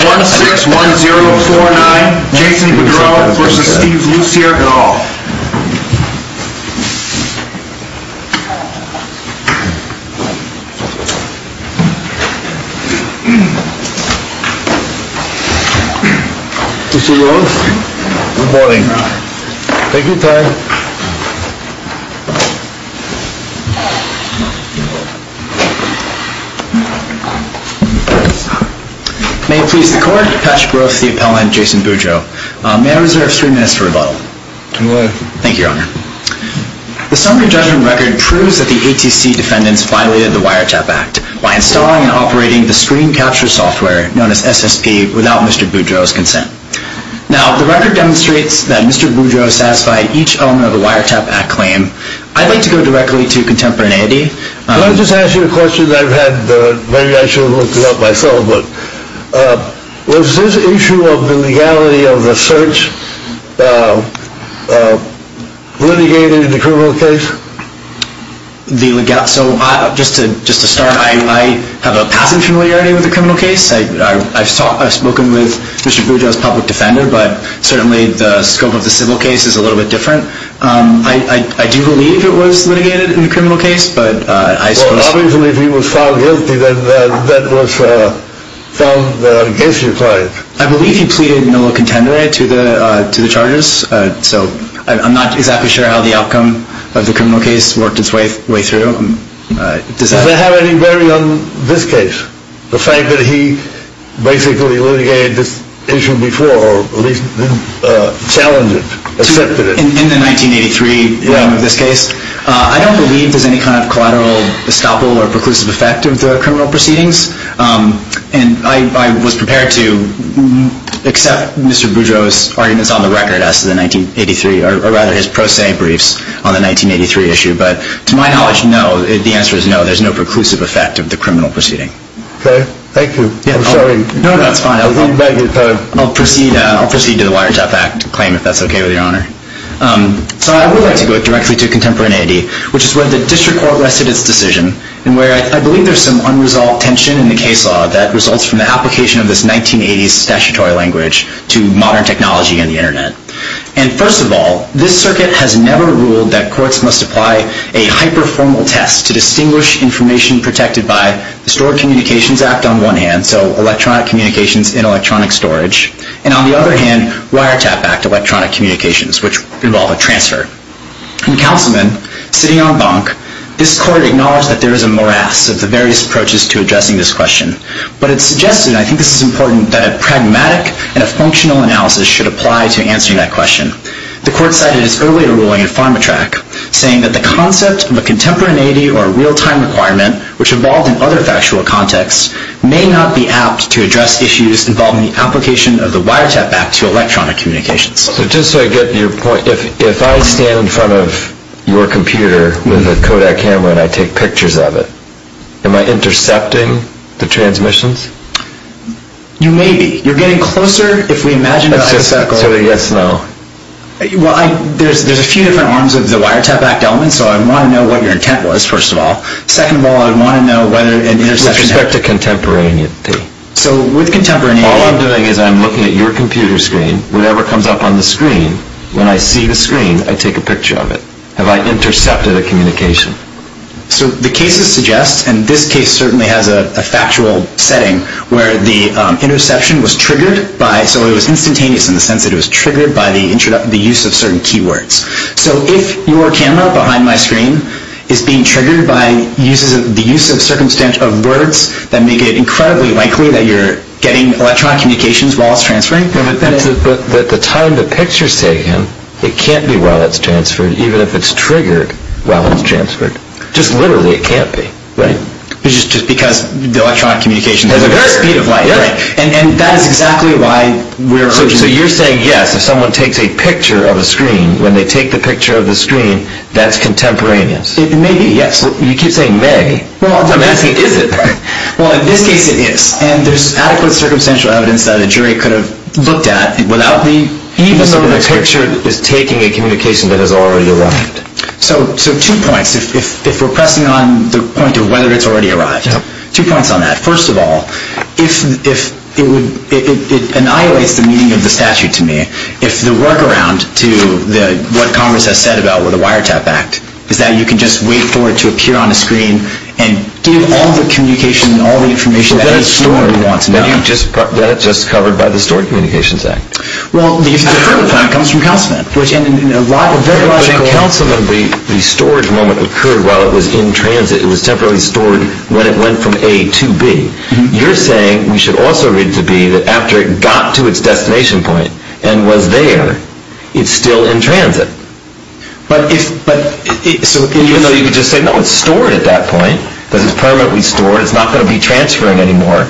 1-6-1-0-4-9 Jason Boudreau v. Steve Lussier et al. Mr. Lewis, good morning. Take your time. May it please the court, Patrick Roth to the appellant, Jason Boudreau. May I reserve three minutes for rebuttal? Go ahead. Thank you, Your Honor. The summary judgment record proves that the ATC defendants violated the Wiretap Act by installing and operating the screen capture software, known as SSP, without Mr. Boudreau's consent. Now, the record demonstrates that Mr. Boudreau has satisfied each element of the Wiretap Act claim. I'd like to go directly to Contemporaneity. Can I just ask you a question that I've had, maybe I should have looked it up myself, but was this issue of the legality of the search litigated in the criminal case? So, just to start, I have a passing familiarity with the criminal case. I've spoken with Mr. Boudreau's public defender, but certainly the scope of the civil case is a little bit different. I do believe it was litigated in the criminal case, but I suppose... Well, I believe he was found guilty, then that was found against your client. I believe he pleaded nulla contendere to the charges, so I'm not exactly sure how the outcome of the criminal case worked its way through. Does that have any bearing on this case? The fact that he basically litigated this issue before, or at least challenged it, accepted it? In the 1983 version of this case? Yeah. I don't believe there's any kind of collateral estoppel or preclusive effect of the criminal proceedings. And I was prepared to accept Mr. Boudreau's arguments on the record as to the 1983, or rather his pro se briefs on the 1983 issue, but to my knowledge, no, the answer is no, there's no preclusive effect of the criminal proceeding. Okay. Thank you. I'm sorry. No, that's fine. I'll proceed to the Wiretap Act claim, if that's okay with your Honor. So I would like to go directly to contemporaneity, which is where the district court rested its decision, and where I believe there's some unresolved tension in the case law that results from the application of this 1980s statutory language to modern technology and the Internet. And first of all, this circuit has never ruled that courts must apply a hyper-formal test to distinguish information protected by the Stored Communications Act on one hand, so electronic communications in electronic storage, and on the other hand, Wiretap Act electronic communications, which involve a transfer. And, Councilman, sitting on bunk, this court acknowledged that there is a morass of the various approaches to addressing this question. But it suggested, and I think this is important, that a pragmatic and a functional analysis should apply to answering that question. The court cited its earlier ruling in PharmaTrack, saying that the concept of a contemporaneity or a real-time requirement, which involved in other factual contexts, may not be apt to address issues involving the application of the Wiretap Act to electronic communications. So just so I get to your point, if I stand in front of your computer with a Kodak camera and I take pictures of it, am I intercepting the transmissions? You may be. You're getting closer, if we imagine the hypothetical. So a yes, no? Well, there's a few different arms of the Wiretap Act element, so I'd want to know what your intent was, first of all. Second of all, I'd want to know whether an interception... With respect to contemporaneity. So with contemporaneity... If I'm looking at your computer screen, whatever comes up on the screen, when I see the screen, I take a picture of it. Have I intercepted a communication? So the cases suggest, and this case certainly has a factual setting, where the interception was triggered by... So it was instantaneous in the sense that it was triggered by the use of certain keywords. So if your camera behind my screen is being triggered by the use of words that make it incredibly likely that you're getting electronic communications while it's transferring... But the time the picture's taken, it can't be while it's transferred, even if it's triggered while it's transferred. Just literally, it can't be, right? It's just because the electronic communication has a very speed of light, right? And that is exactly why we're... So you're saying, yes, if someone takes a picture of a screen, when they take the picture of the screen, that's contemporaneous. It may be, yes. You keep saying may. Well, I'm asking, is it? Well, in this case, it is. And there's adequate circumstantial evidence that a jury could have looked at without the... Even though the picture is taking a communication that has already arrived. So two points, if we're pressing on the point of whether it's already arrived. Two points on that. First of all, it annihilates the meaning of the statute to me. If the workaround to what Congress has said about the Wiretap Act is that you can just wait for it to appear on a screen and give all the communication and all the information that a jury wants. But that's stored. That's just covered by the Stored Communications Act. Well, the further part comes from Councilman. Which in a very logical... In Councilman, the storage moment occurred while it was in transit. It was temporarily stored when it went from A to B. You're saying we should also read to B that after it got to its destination point and was there, it's still in transit. Even though you could just say, no, it's stored at that point. It's permanently stored. It's not going to be transferring anymore.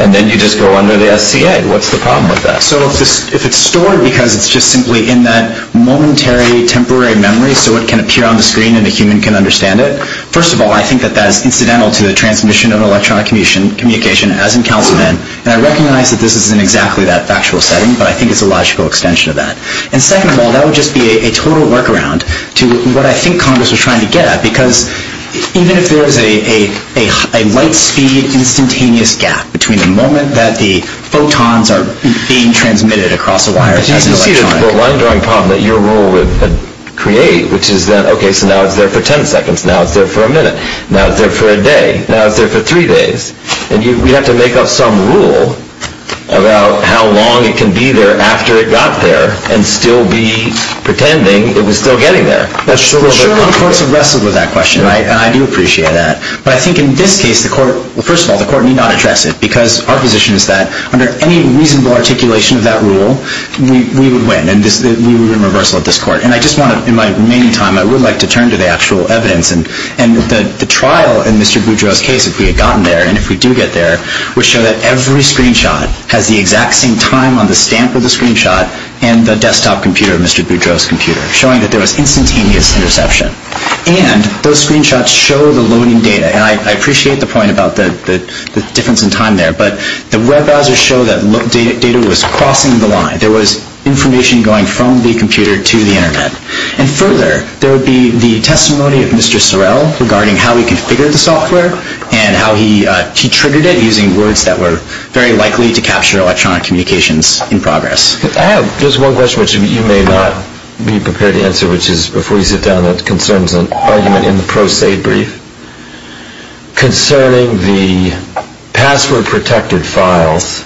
And then you just go under the SCA. What's the problem with that? So if it's stored because it's just simply in that momentary, temporary memory so it can appear on the screen and a human can understand it, first of all, I think that that is incidental to the transmission of electronic communication, as in Councilman. And I recognize that this isn't exactly that factual setting, but I think it's a logical extension of that. And second of all, that would just be a total workaround to what I think Congress was trying to get at. Because even if there's a light-speed instantaneous gap between the moment that the photons are being transmitted across the wires as an electronic... But you can see the line-drawing problem that your rule would create, which is that, okay, so now it's there for ten seconds. Now it's there for a minute. Now it's there for a day. Now it's there for three days. And we'd have to make up some rule about how long it can be there after it got there and still be pretending it was still getting there. Surely the courts have wrestled with that question, and I do appreciate that. But I think in this case, first of all, the court need not address it because our position is that under any reasonable articulation of that rule, we would win, and we would win reversal at this court. And I just want to, in my remaining time, I would like to turn to the actual evidence and the trial in Mr. Boudreau's case, if we had gotten there, and if we do get there, would show that every screenshot has the exact same time on the stamp of the screenshot and the desktop computer of Mr. Boudreau's computer, showing that there was instantaneous interception. And those screenshots show the loading data. And I appreciate the point about the difference in time there, but the web browsers show that data was crossing the line. There was information going from the computer to the Internet. And further, there would be the testimony of Mr. Sorrell regarding how he configured the software and how he triggered it using words that were very likely to capture electronic communications in progress. I have just one question which you may not be prepared to answer, which is, before you sit down, that concerns an argument in the pro se brief. Concerning the password-protected files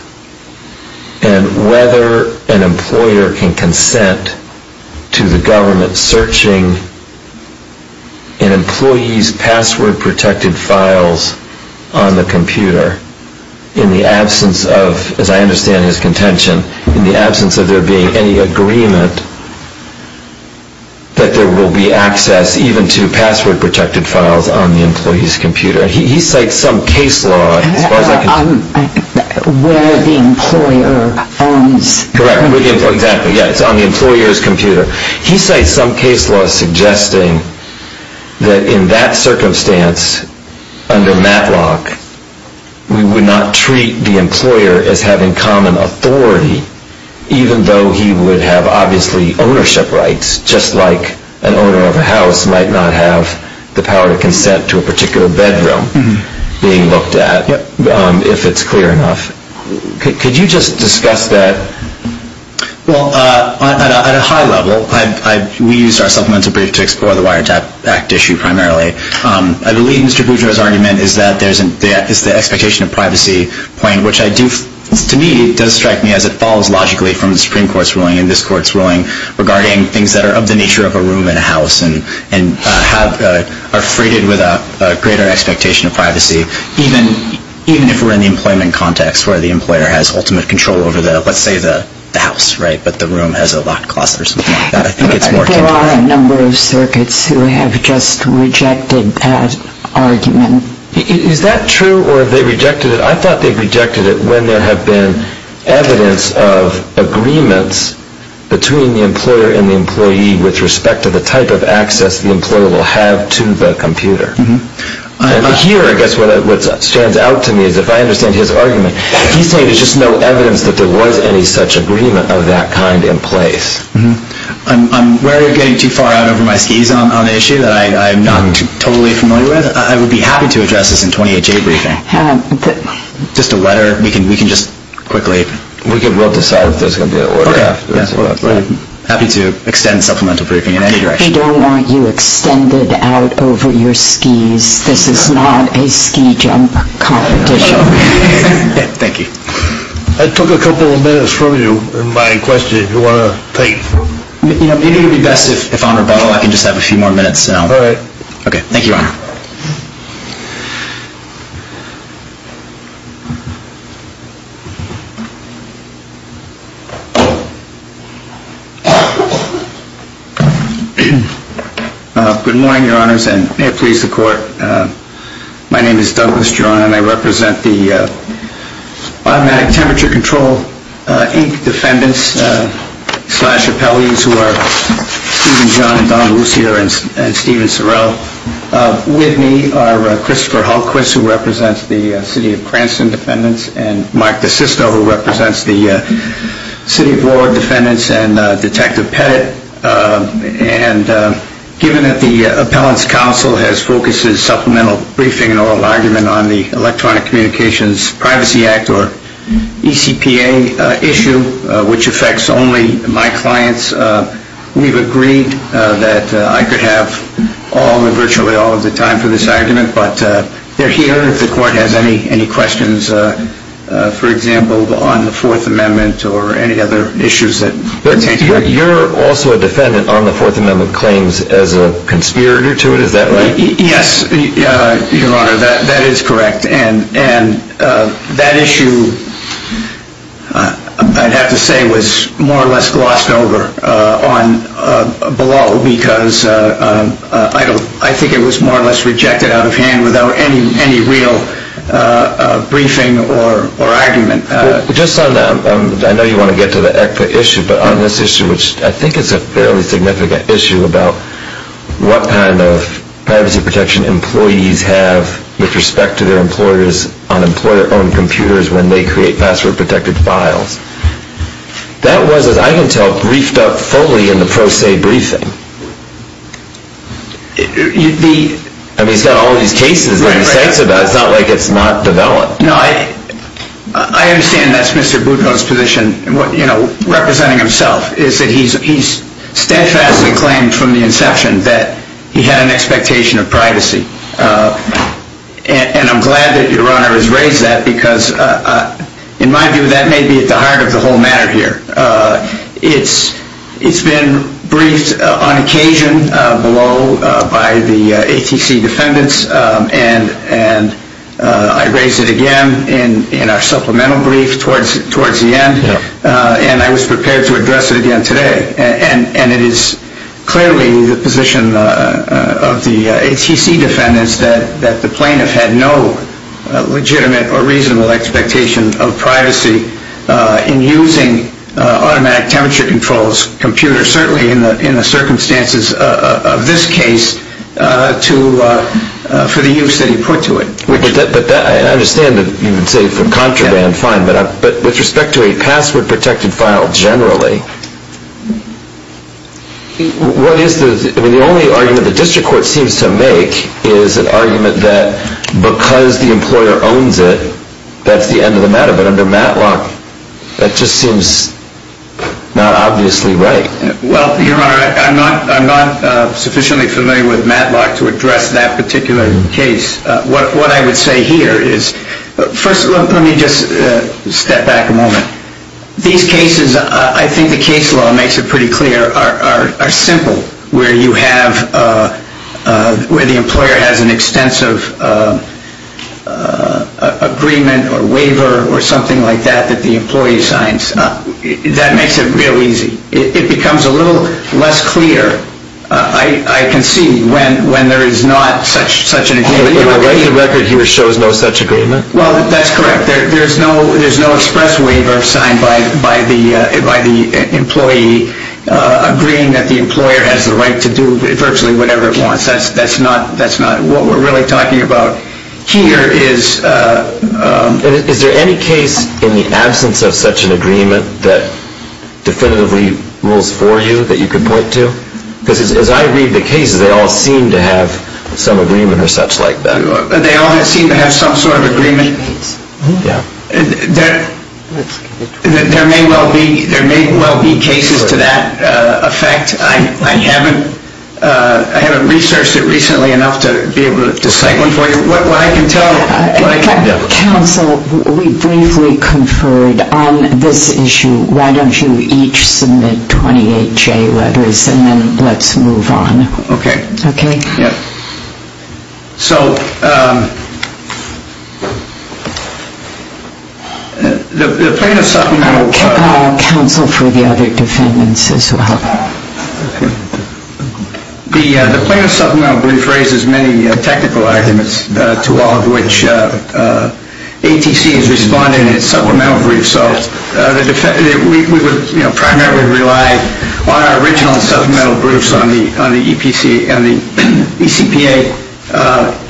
and whether an employer can consent to the government searching an employee's password-protected files on the computer, in the absence of, as I understand his contention, in the absence of there being any agreement that there will be access even to password-protected files on the employee's computer. He cites some case law, as far as I can tell... Where the employer owns... Correct. Exactly. It's on the employer's computer. He cites some case law suggesting that in that circumstance, under Matlock, we would not treat the employer as having common authority, even though he would have, obviously, ownership rights, just like an owner of a house might not have the power to consent to a particular bedroom, being looked at, if it's clear enough. Could you just discuss that? Well, at a high level, we used our supplemental brief to explore the Wiretap Act issue primarily. I believe Mr. Boudreau's argument is that there's an expectation of privacy point, which, to me, does strike me as it falls logically from the Supreme Court's ruling and this Court's ruling regarding things that are of the nature of a room in a house and are freighted with a greater expectation of privacy, even if we're in the employment context, where the employer has ultimate control over, let's say, the house, right? But the room has a locked closet or something like that. I think it's more... There are a number of circuits who have just rejected that argument. Is that true, or have they rejected it? I thought they rejected it when there have been evidence of agreements between the employer and the employee with respect to the type of access the employer will have to the computer. And here, I guess, what stands out to me is, if I understand his argument, he's saying there's just no evidence that there was any such agreement of that kind in place. I'm wary of getting too far out over my skis on an issue that I'm not totally familiar with. I would be happy to address this in a 28-J briefing. Just a letter? We can just quickly... We'll decide if there's going to be a letter afterwards. I'm happy to extend a supplemental briefing in any direction. We don't want you extended out over your skis. This is not a ski jump competition. Thank you. I took a couple of minutes from you in my question, if you want to take... It would be best if on rebuttal, I can just have a few more minutes. All right. Okay. Thank you, Your Honor. Good morning, Your Honors, and may it please the Court. My name is Douglas Geron and I represent the Automatic Temperature Control Inc. defendants slash appellees who are Stephen John and Donna Lucia and Stephen Sorrell. With me are Christopher Hullquist, who represents the City of Cranston defendants, and Mark DeSisto, who represents the City Board defendants and Detective Pettit. And given that the Appellants' Counsel has focused its supplemental briefing on the Electronic Communications Privacy Act or ECPA issue, which affects only my clients, we've agreed that I could have virtually all of the time for this argument. But they're here if the Court has any questions, for example, on the Fourth Amendment or any other issues that pertain to it. You're also a defendant on the Fourth Amendment claims as a conspirator to it, is that right? Yes, Your Honor, that is correct. And that issue, I'd have to say, was more or less glossed over on below because I think it was more or less rejected out of hand without any real briefing or argument. Just on that, I know you want to get to the ECPA issue, but on this issue, which I think is a fairly significant issue about what kind of privacy protection employees have with respect to their employers on employer-owned computers when they create password-protected files, that was, as I can tell, briefed up fully in the pro se briefing. I mean, it's got all these cases on the sides of it. It's not like it's not developed. No, I understand that's Mr. Boutreau's position, representing himself, is that he steadfastly claimed from the inception that he had an expectation of privacy. And I'm glad that Your Honor has raised that because, in my view, that may be at the heart of the whole matter here. It's been briefed on occasion below by the ATC defendants, and I raised it again in our supplemental brief towards the end, and I was prepared to address it again today. And it is clearly the position of the ATC defendants that the plaintiff had no legitimate or reasonable expectation of privacy in using automatic temperature controls computers, certainly in the circumstances of this case, for the use that he put to it. I understand that you would say from contraband, fine, but with respect to a password-protected file generally, the only argument the district court seems to make is an argument that because the employer owns it, that's the end of the matter. But under Matlock, that just seems not obviously right. Well, Your Honor, I'm not sufficiently familiar with Matlock to address that particular case. What I would say here is, first, let me just step back a moment. These cases, I think the case law makes it pretty clear, are simple, where the employer has an extensive agreement or waiver or something like that that the employee signs. That makes it real easy. It becomes a little less clear, I concede, when there is not such an agreement. But the record here shows no such agreement? Well, that's correct. There is no express waiver signed by the employee agreeing that the employer has the right to do virtually whatever it wants. That's not what we're really talking about here. Is there any case in the absence of such an agreement that definitively rules for you that you could point to? Because as I read the cases, they all seem to have some agreement or such like that. They all seem to have some sort of agreement. There may well be cases to that effect. I haven't researched it recently enough to be able to cite one for you. What I can tell you. Counsel, we briefly conferred on this issue. Why don't you each submit 28 J letters and then let's move on. Okay. Okay. Yeah. So the plaintiff's supplemental. I'll check on counsel for the other defendants as well. The plaintiff's supplemental brief raises many technical arguments to all of which ATC has responded in its supplemental brief. We would primarily rely on our original supplemental briefs on the EPC and the ECPA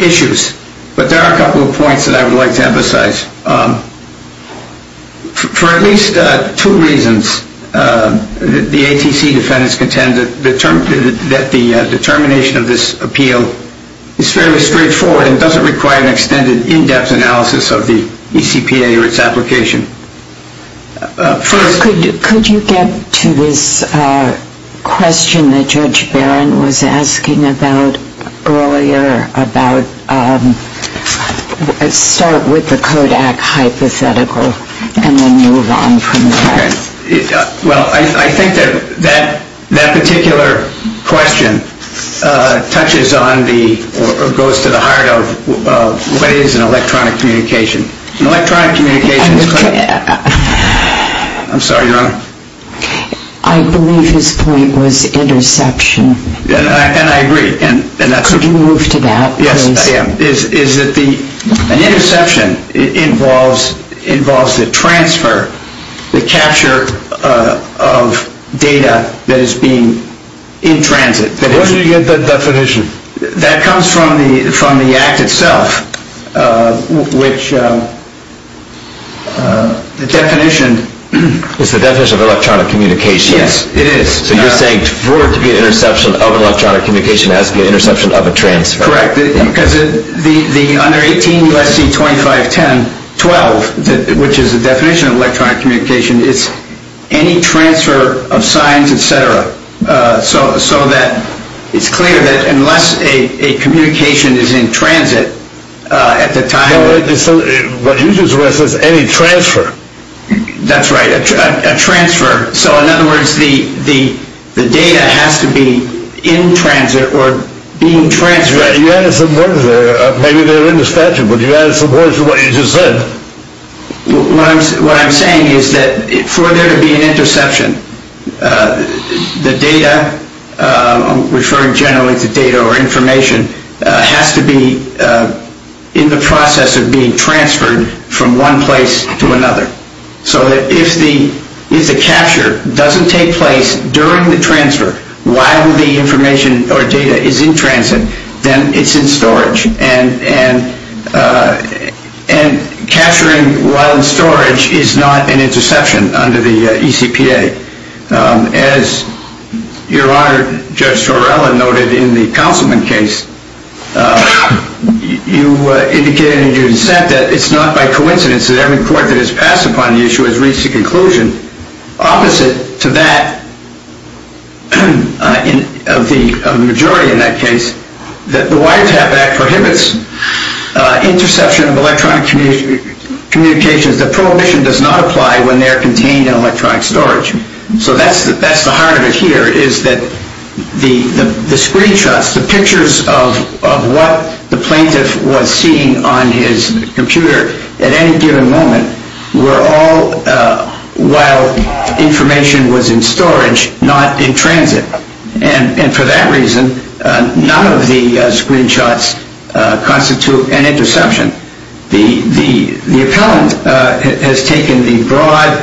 issues. But there are a couple of points that I would like to emphasize. For at least two reasons, the ATC defendants contend that the determination of this appeal is fairly straightforward and doesn't require an extended in-depth analysis of the ECPA or its application. First. Could you get to this question that Judge Barron was asking about earlier about start with the Kodak hypothetical and then move on from that? Okay. Well, I think that that particular question touches on the or goes to the heart of what is an electronic communication. An electronic communication is. I'm sorry, Your Honor. I believe his point was interception. Could you move to that, please? An interception involves the transfer, the capture of data that is being in transit. Where did you get that definition? That comes from the act itself, which the definition. It's the definition of electronic communications. Yes, it is. So you're saying for it to be an interception of electronic communication, it has to be an interception of a transfer. That's correct. Because under 18 U.S.C. 2510-12, which is the definition of electronic communication, it's any transfer of signs, et cetera. So that it's clear that unless a communication is in transit at the time. What you just read says any transfer. That's right. A transfer. So in other words, the data has to be in transit or being transferred. You added some words there. Maybe they're in the statute, but you added some words to what you just said. What I'm saying is that for there to be an interception, the data, referring generally to data or information, has to be in the process of being transferred from one place to another. So if the capture doesn't take place during the transfer while the information or data is in transit, then it's in storage. And capturing while in storage is not an interception under the ECPA. As Your Honor, Judge Torello noted in the Councilman case, you indicated in your dissent that it's not by coincidence that every court that has passed upon the issue has reached a conclusion opposite to that of the majority in that case, that the Wiretap Act prohibits interception of electronic communications. The prohibition does not apply when they are contained in electronic storage. So that's the heart of it here, is that the screenshots, the pictures of what the plaintiff was seeing on his computer at any given moment, were all while information was in storage, not in transit. And for that reason, none of the screenshots constitute an interception. The appellant has taken the broad,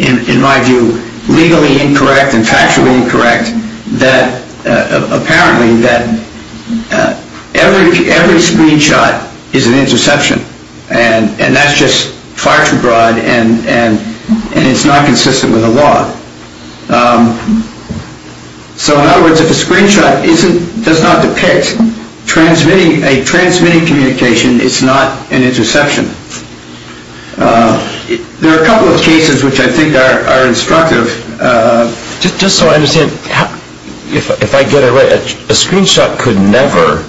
in my view, legally incorrect and factually incorrect, that apparently every screenshot is an interception. And that's just far too broad, and it's not consistent with the law. So in other words, if a screenshot does not depict a transmitting communication, it's not an interception. There are a couple of cases which I think are instructive. Just so I understand, if I get it right, a screenshot could never...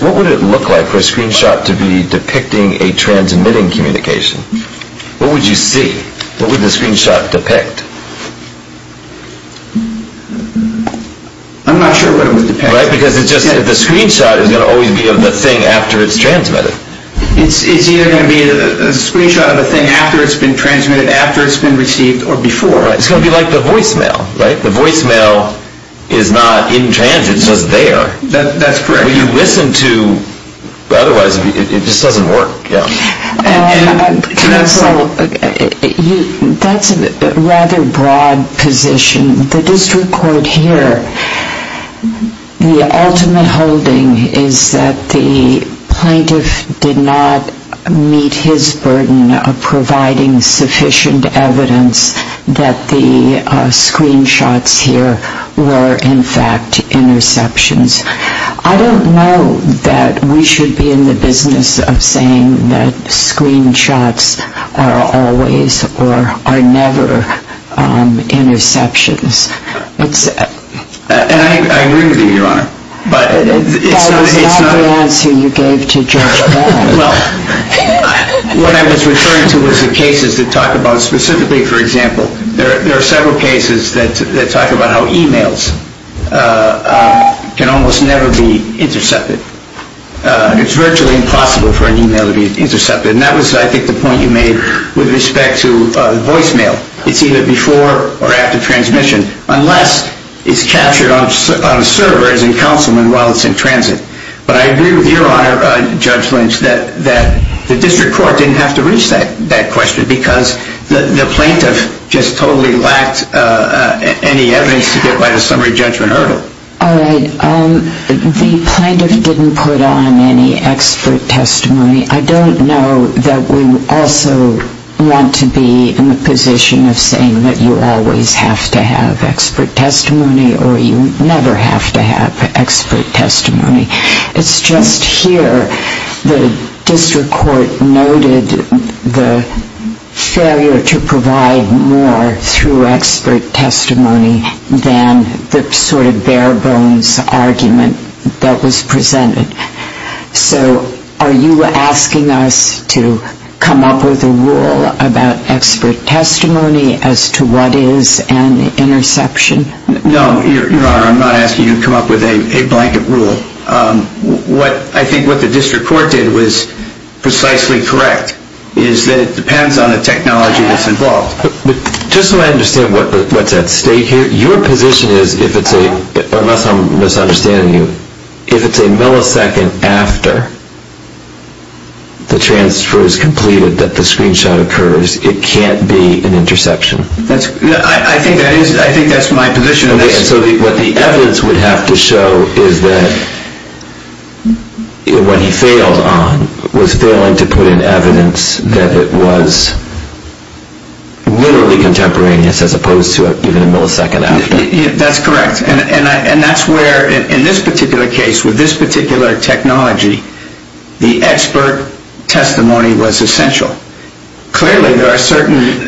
What would it look like for a screenshot to be depicting a transmitting communication? What would you see? What would the screenshot depict? I'm not sure what it would depict. Right, because the screenshot is going to always be of the thing after it's transmitted. It's either going to be a screenshot of the thing after it's been transmitted, after it's been received, or before. Right, it's going to be like the voicemail, right? The voicemail is not in transit, it's just there. That's correct. But you listen to... otherwise it just doesn't work. Counsel, that's a rather broad position. The district court here, the ultimate holding is that the plaintiff did not meet his burden of providing sufficient evidence that the screenshots here were in fact interceptions. I don't know that we should be in the business of saying that screenshots are always or are never interceptions. And I agree with you, Your Honor. That was not the answer you gave to Judge Bell. Well, what I was referring to was the cases that talk about, specifically, for example, there are several cases that talk about how emails can almost never be intercepted. It's virtually impossible for an email to be intercepted. And that was, I think, the point you made with respect to voicemail. It's either before or after transmission, unless it's captured on a server as in councilman while it's in transit. But I agree with you, Your Honor, Judge Lynch, that the district court didn't have to reach that question because the plaintiff just totally lacked any evidence to get by the summary judgment hurdle. All right. The plaintiff didn't put on any expert testimony. I don't know that we also want to be in the position of saying that you always have to have expert testimony or you never have to have expert testimony. It's just here the district court noted the failure to provide more through expert testimony than the sort of bare bones argument that was presented. So are you asking us to come up with a rule about expert testimony as to what is an interception? No, Your Honor, I'm not asking you to come up with a blanket rule. I think what the district court did was precisely correct, is that it depends on the technology that's involved. Just so I understand what's at stake here, your position is, unless I'm misunderstanding you, if it's a millisecond after the transfer is completed, that the screenshot occurs, it can't be an interception. I think that's my position. So what the evidence would have to show is that what he failed on was failing to put in evidence that it was literally contemporaneous as opposed to even a millisecond after. That's correct. And that's where, in this particular case, with this particular technology, the expert testimony was essential. Clearly there are certain...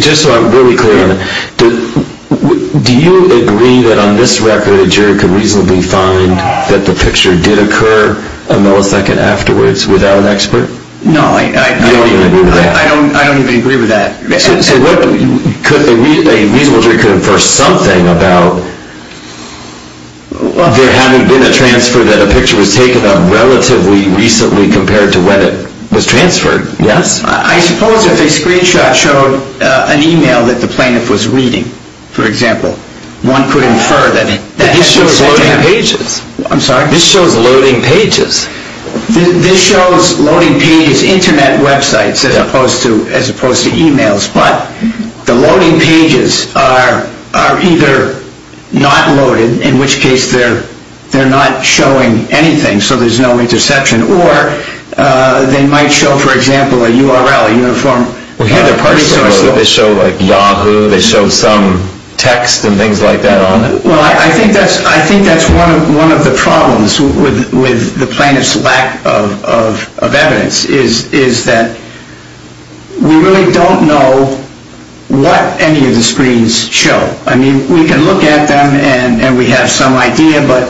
Just so I'm really clear, do you agree that on this record a jury could reasonably find that the picture did occur a millisecond afterwards without an expert? No, I don't even agree with that. You don't even agree with that? I don't even agree with that. So a reasonable jury could infer something about there having been a transfer that a picture was taken of relatively recently compared to when it was transferred, yes? I suppose if a screenshot showed an e-mail that the plaintiff was reading, for example, one could infer that... But this shows loading pages. I'm sorry? This shows loading pages. This shows loading pages, Internet websites as opposed to e-mails, but the loading pages are either not loaded, in which case they're not showing anything, so there's no interception, or they might show, for example, a URL, a uniform... Well, here they're partially loaded. They show like Yahoo, they show some text and things like that on it. Well, I think that's one of the problems with the plaintiff's lack of evidence is that we really don't know what any of the screens show. I mean, we can look at them and we have some idea, but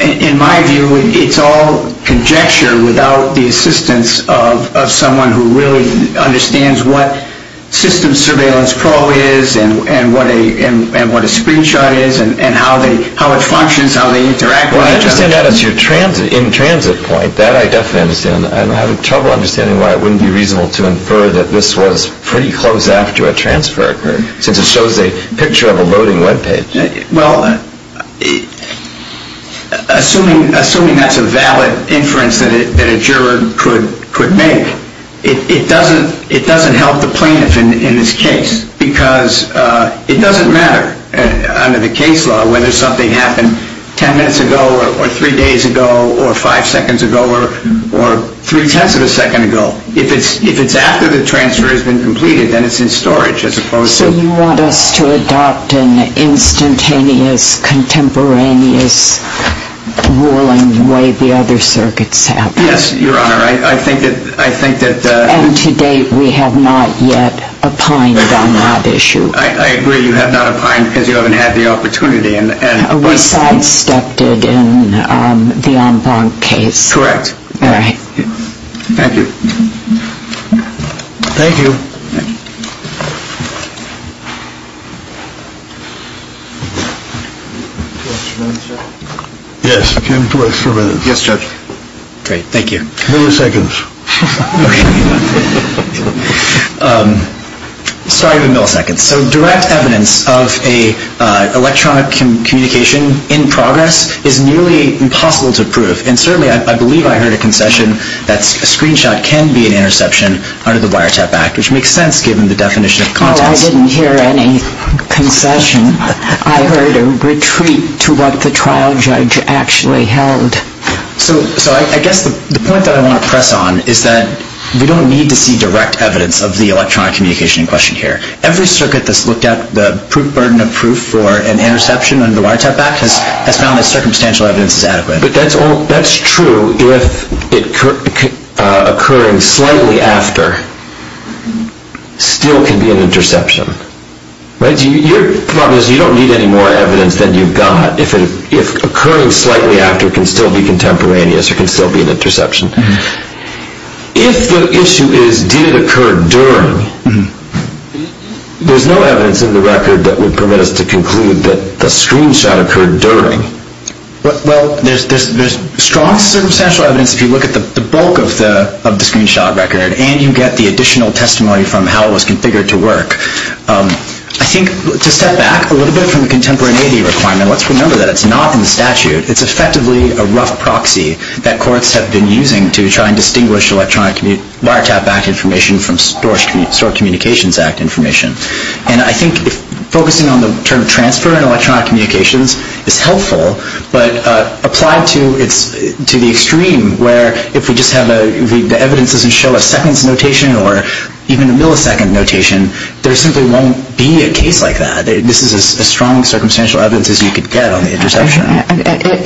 in my view it's all conjecture without the assistance of someone who really understands what System Surveillance Pro is and what a screenshot is and how it functions, how they interact with each other. Well, I understand that as your in-transit point. That I definitely understand. I'm having trouble understanding why it wouldn't be reasonable to infer that this was pretty close after a transfer occurred, since it shows a picture of a loading webpage. Well, assuming that's a valid inference that a juror could make, it doesn't help the plaintiff in this case because it doesn't matter under the case law whether something happened ten minutes ago or three days ago or five seconds ago or three-tenths of a second ago. If it's after the transfer has been completed, then it's in storage as opposed to... So you want us to adopt an instantaneous, contemporaneous, whirling way the other circuits have. Yes, Your Honor. I think that... And to date we have not yet opined on that issue. I agree you have not opined because you haven't had the opportunity. We sidestepped it in the En Blanc case. Correct. All right. Thank you. Thank you. Yes. Yes, Judge. Great. Thank you. Milliseconds. Okay. Sorry for the milliseconds. So direct evidence of an electronic communication in progress is nearly impossible to prove. And certainly I believe I heard a concession that a screenshot can be an interception under the Wiretap Act, which makes sense given the definition of context. Oh, I didn't hear any concession. I heard a retreat to what the trial judge actually held. So I guess the point that I want to press on is that we don't need to see direct evidence of the electronic communication in question here. Every circuit that's looked at, the burden of proof for an interception under the Wiretap Act has found that circumstantial evidence is adequate. But that's true if occurring slightly after still can be an interception. Your problem is you don't need any more evidence than you've got. If occurring slightly after can still be contemporaneous or can still be an interception. If the issue is did it occur during, there's no evidence in the record that would permit us to conclude that the screenshot occurred during. Well, there's strong circumstantial evidence if you look at the bulk of the screenshot record and you get the additional testimony from how it was configured to work. I think to step back a little bit from the contemporaneity requirement, let's remember that it's not in the statute. It's effectively a rough proxy that courts have been using to try and distinguish electronic Wiretap Act information from Store Communications Act information. And I think focusing on the term transfer in electronic communications is helpful, but applied to the extreme where if we just have the evidence doesn't show a seconds notation or even a millisecond notation, there simply won't be a case like that. This is as strong circumstantial evidence as you could get on the interception.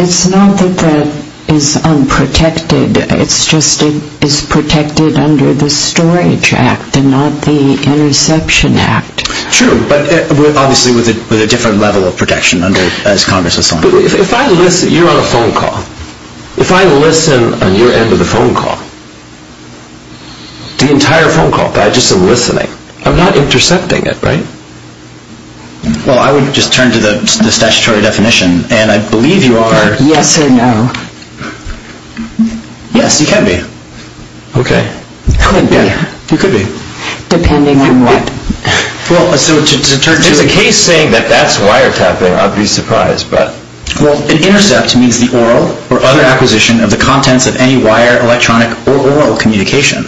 It's not that that is unprotected. It's just it's protected under the Storage Act and not the Interception Act. True, but obviously with a different level of protection as Congress has so far. If I listen, you're on a phone call. If I listen on your end of the phone call, the entire phone call, by just listening, I'm not intercepting it, right? Well, I would just turn to the statutory definition, and I believe you are. Yes or no? Yes, you can be. Okay. Could be. You could be. Depending on what? Well, so to turn to the case saying that that's wiretapping, I'd be surprised, but. Well, an intercept means the oral or other acquisition of the contents of any wire, electronic or oral communication.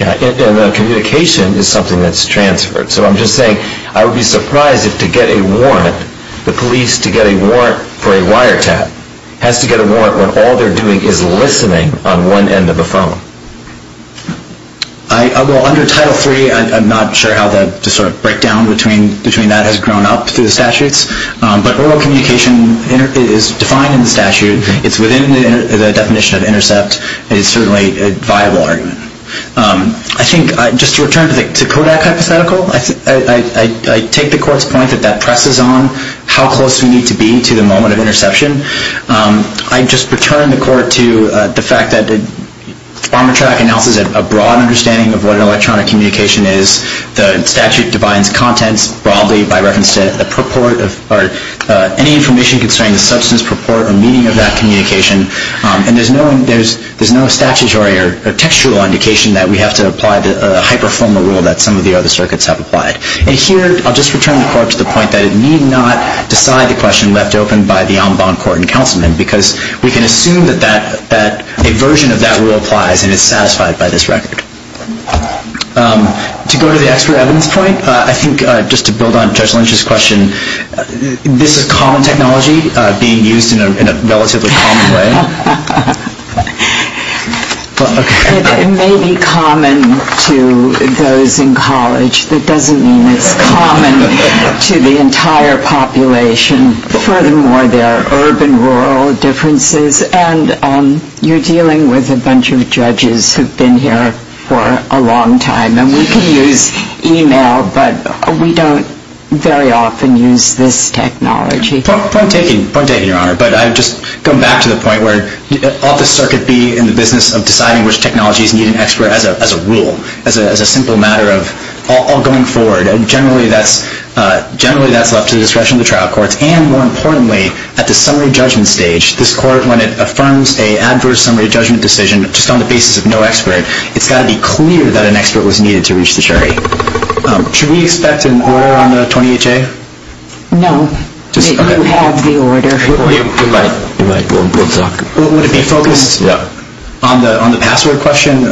Yeah, and the communication is something that's transferred. So I'm just saying I would be surprised if to get a warrant, the police to get a warrant for a wiretap, has to get a warrant when all they're doing is listening on one end of the phone. Well, under Title III, I'm not sure how the sort of breakdown between that has grown up through the statutes, but oral communication is defined in the statute. It's within the definition of intercept, and it's certainly a viable argument. I think just to return to the Kodak hypothetical, I take the Court's point that that presses on how close we need to be to the moment of interception. I'd just return the Court to the fact that Armatrack announces a broad understanding of what electronic communication is. The statute defines contents broadly by reference to the purport of or any information concerning the substance, purport, or meaning of that communication. And there's no statutory or textual indication that we have to apply the hyperformal rule that some of the other circuits have applied. And here, I'll just return the Court to the point that it need not decide the question left open by the en banc court and councilmen because we can assume that a version of that rule applies and is satisfied by this record. To go to the expert evidence point, I think just to build on Judge Lynch's question, this is common technology being used in a relatively common way? It may be common to those in college. That doesn't mean it's common to the entire population. Furthermore, there are urban-rural differences, and you're dealing with a bunch of judges who've been here for a long time. And we can use e-mail, but we don't very often use this technology. Point taken, Your Honor. But I'd just go back to the point where ought the circuit be in the business of deciding which technologies need an expert as a rule, as a simple matter of all going forward. Generally, that's left to the discretion of the trial courts. And more importantly, at the summary judgment stage, this Court, when it affirms an adverse summary judgment decision just on the basis of no expert, it's got to be clear that an expert was needed to reach the jury. Should we expect an order on the 20HA? No. You have the order. You're right. We'll talk. Would it be focused on the password question? Yeah. Thank you, Your Honor.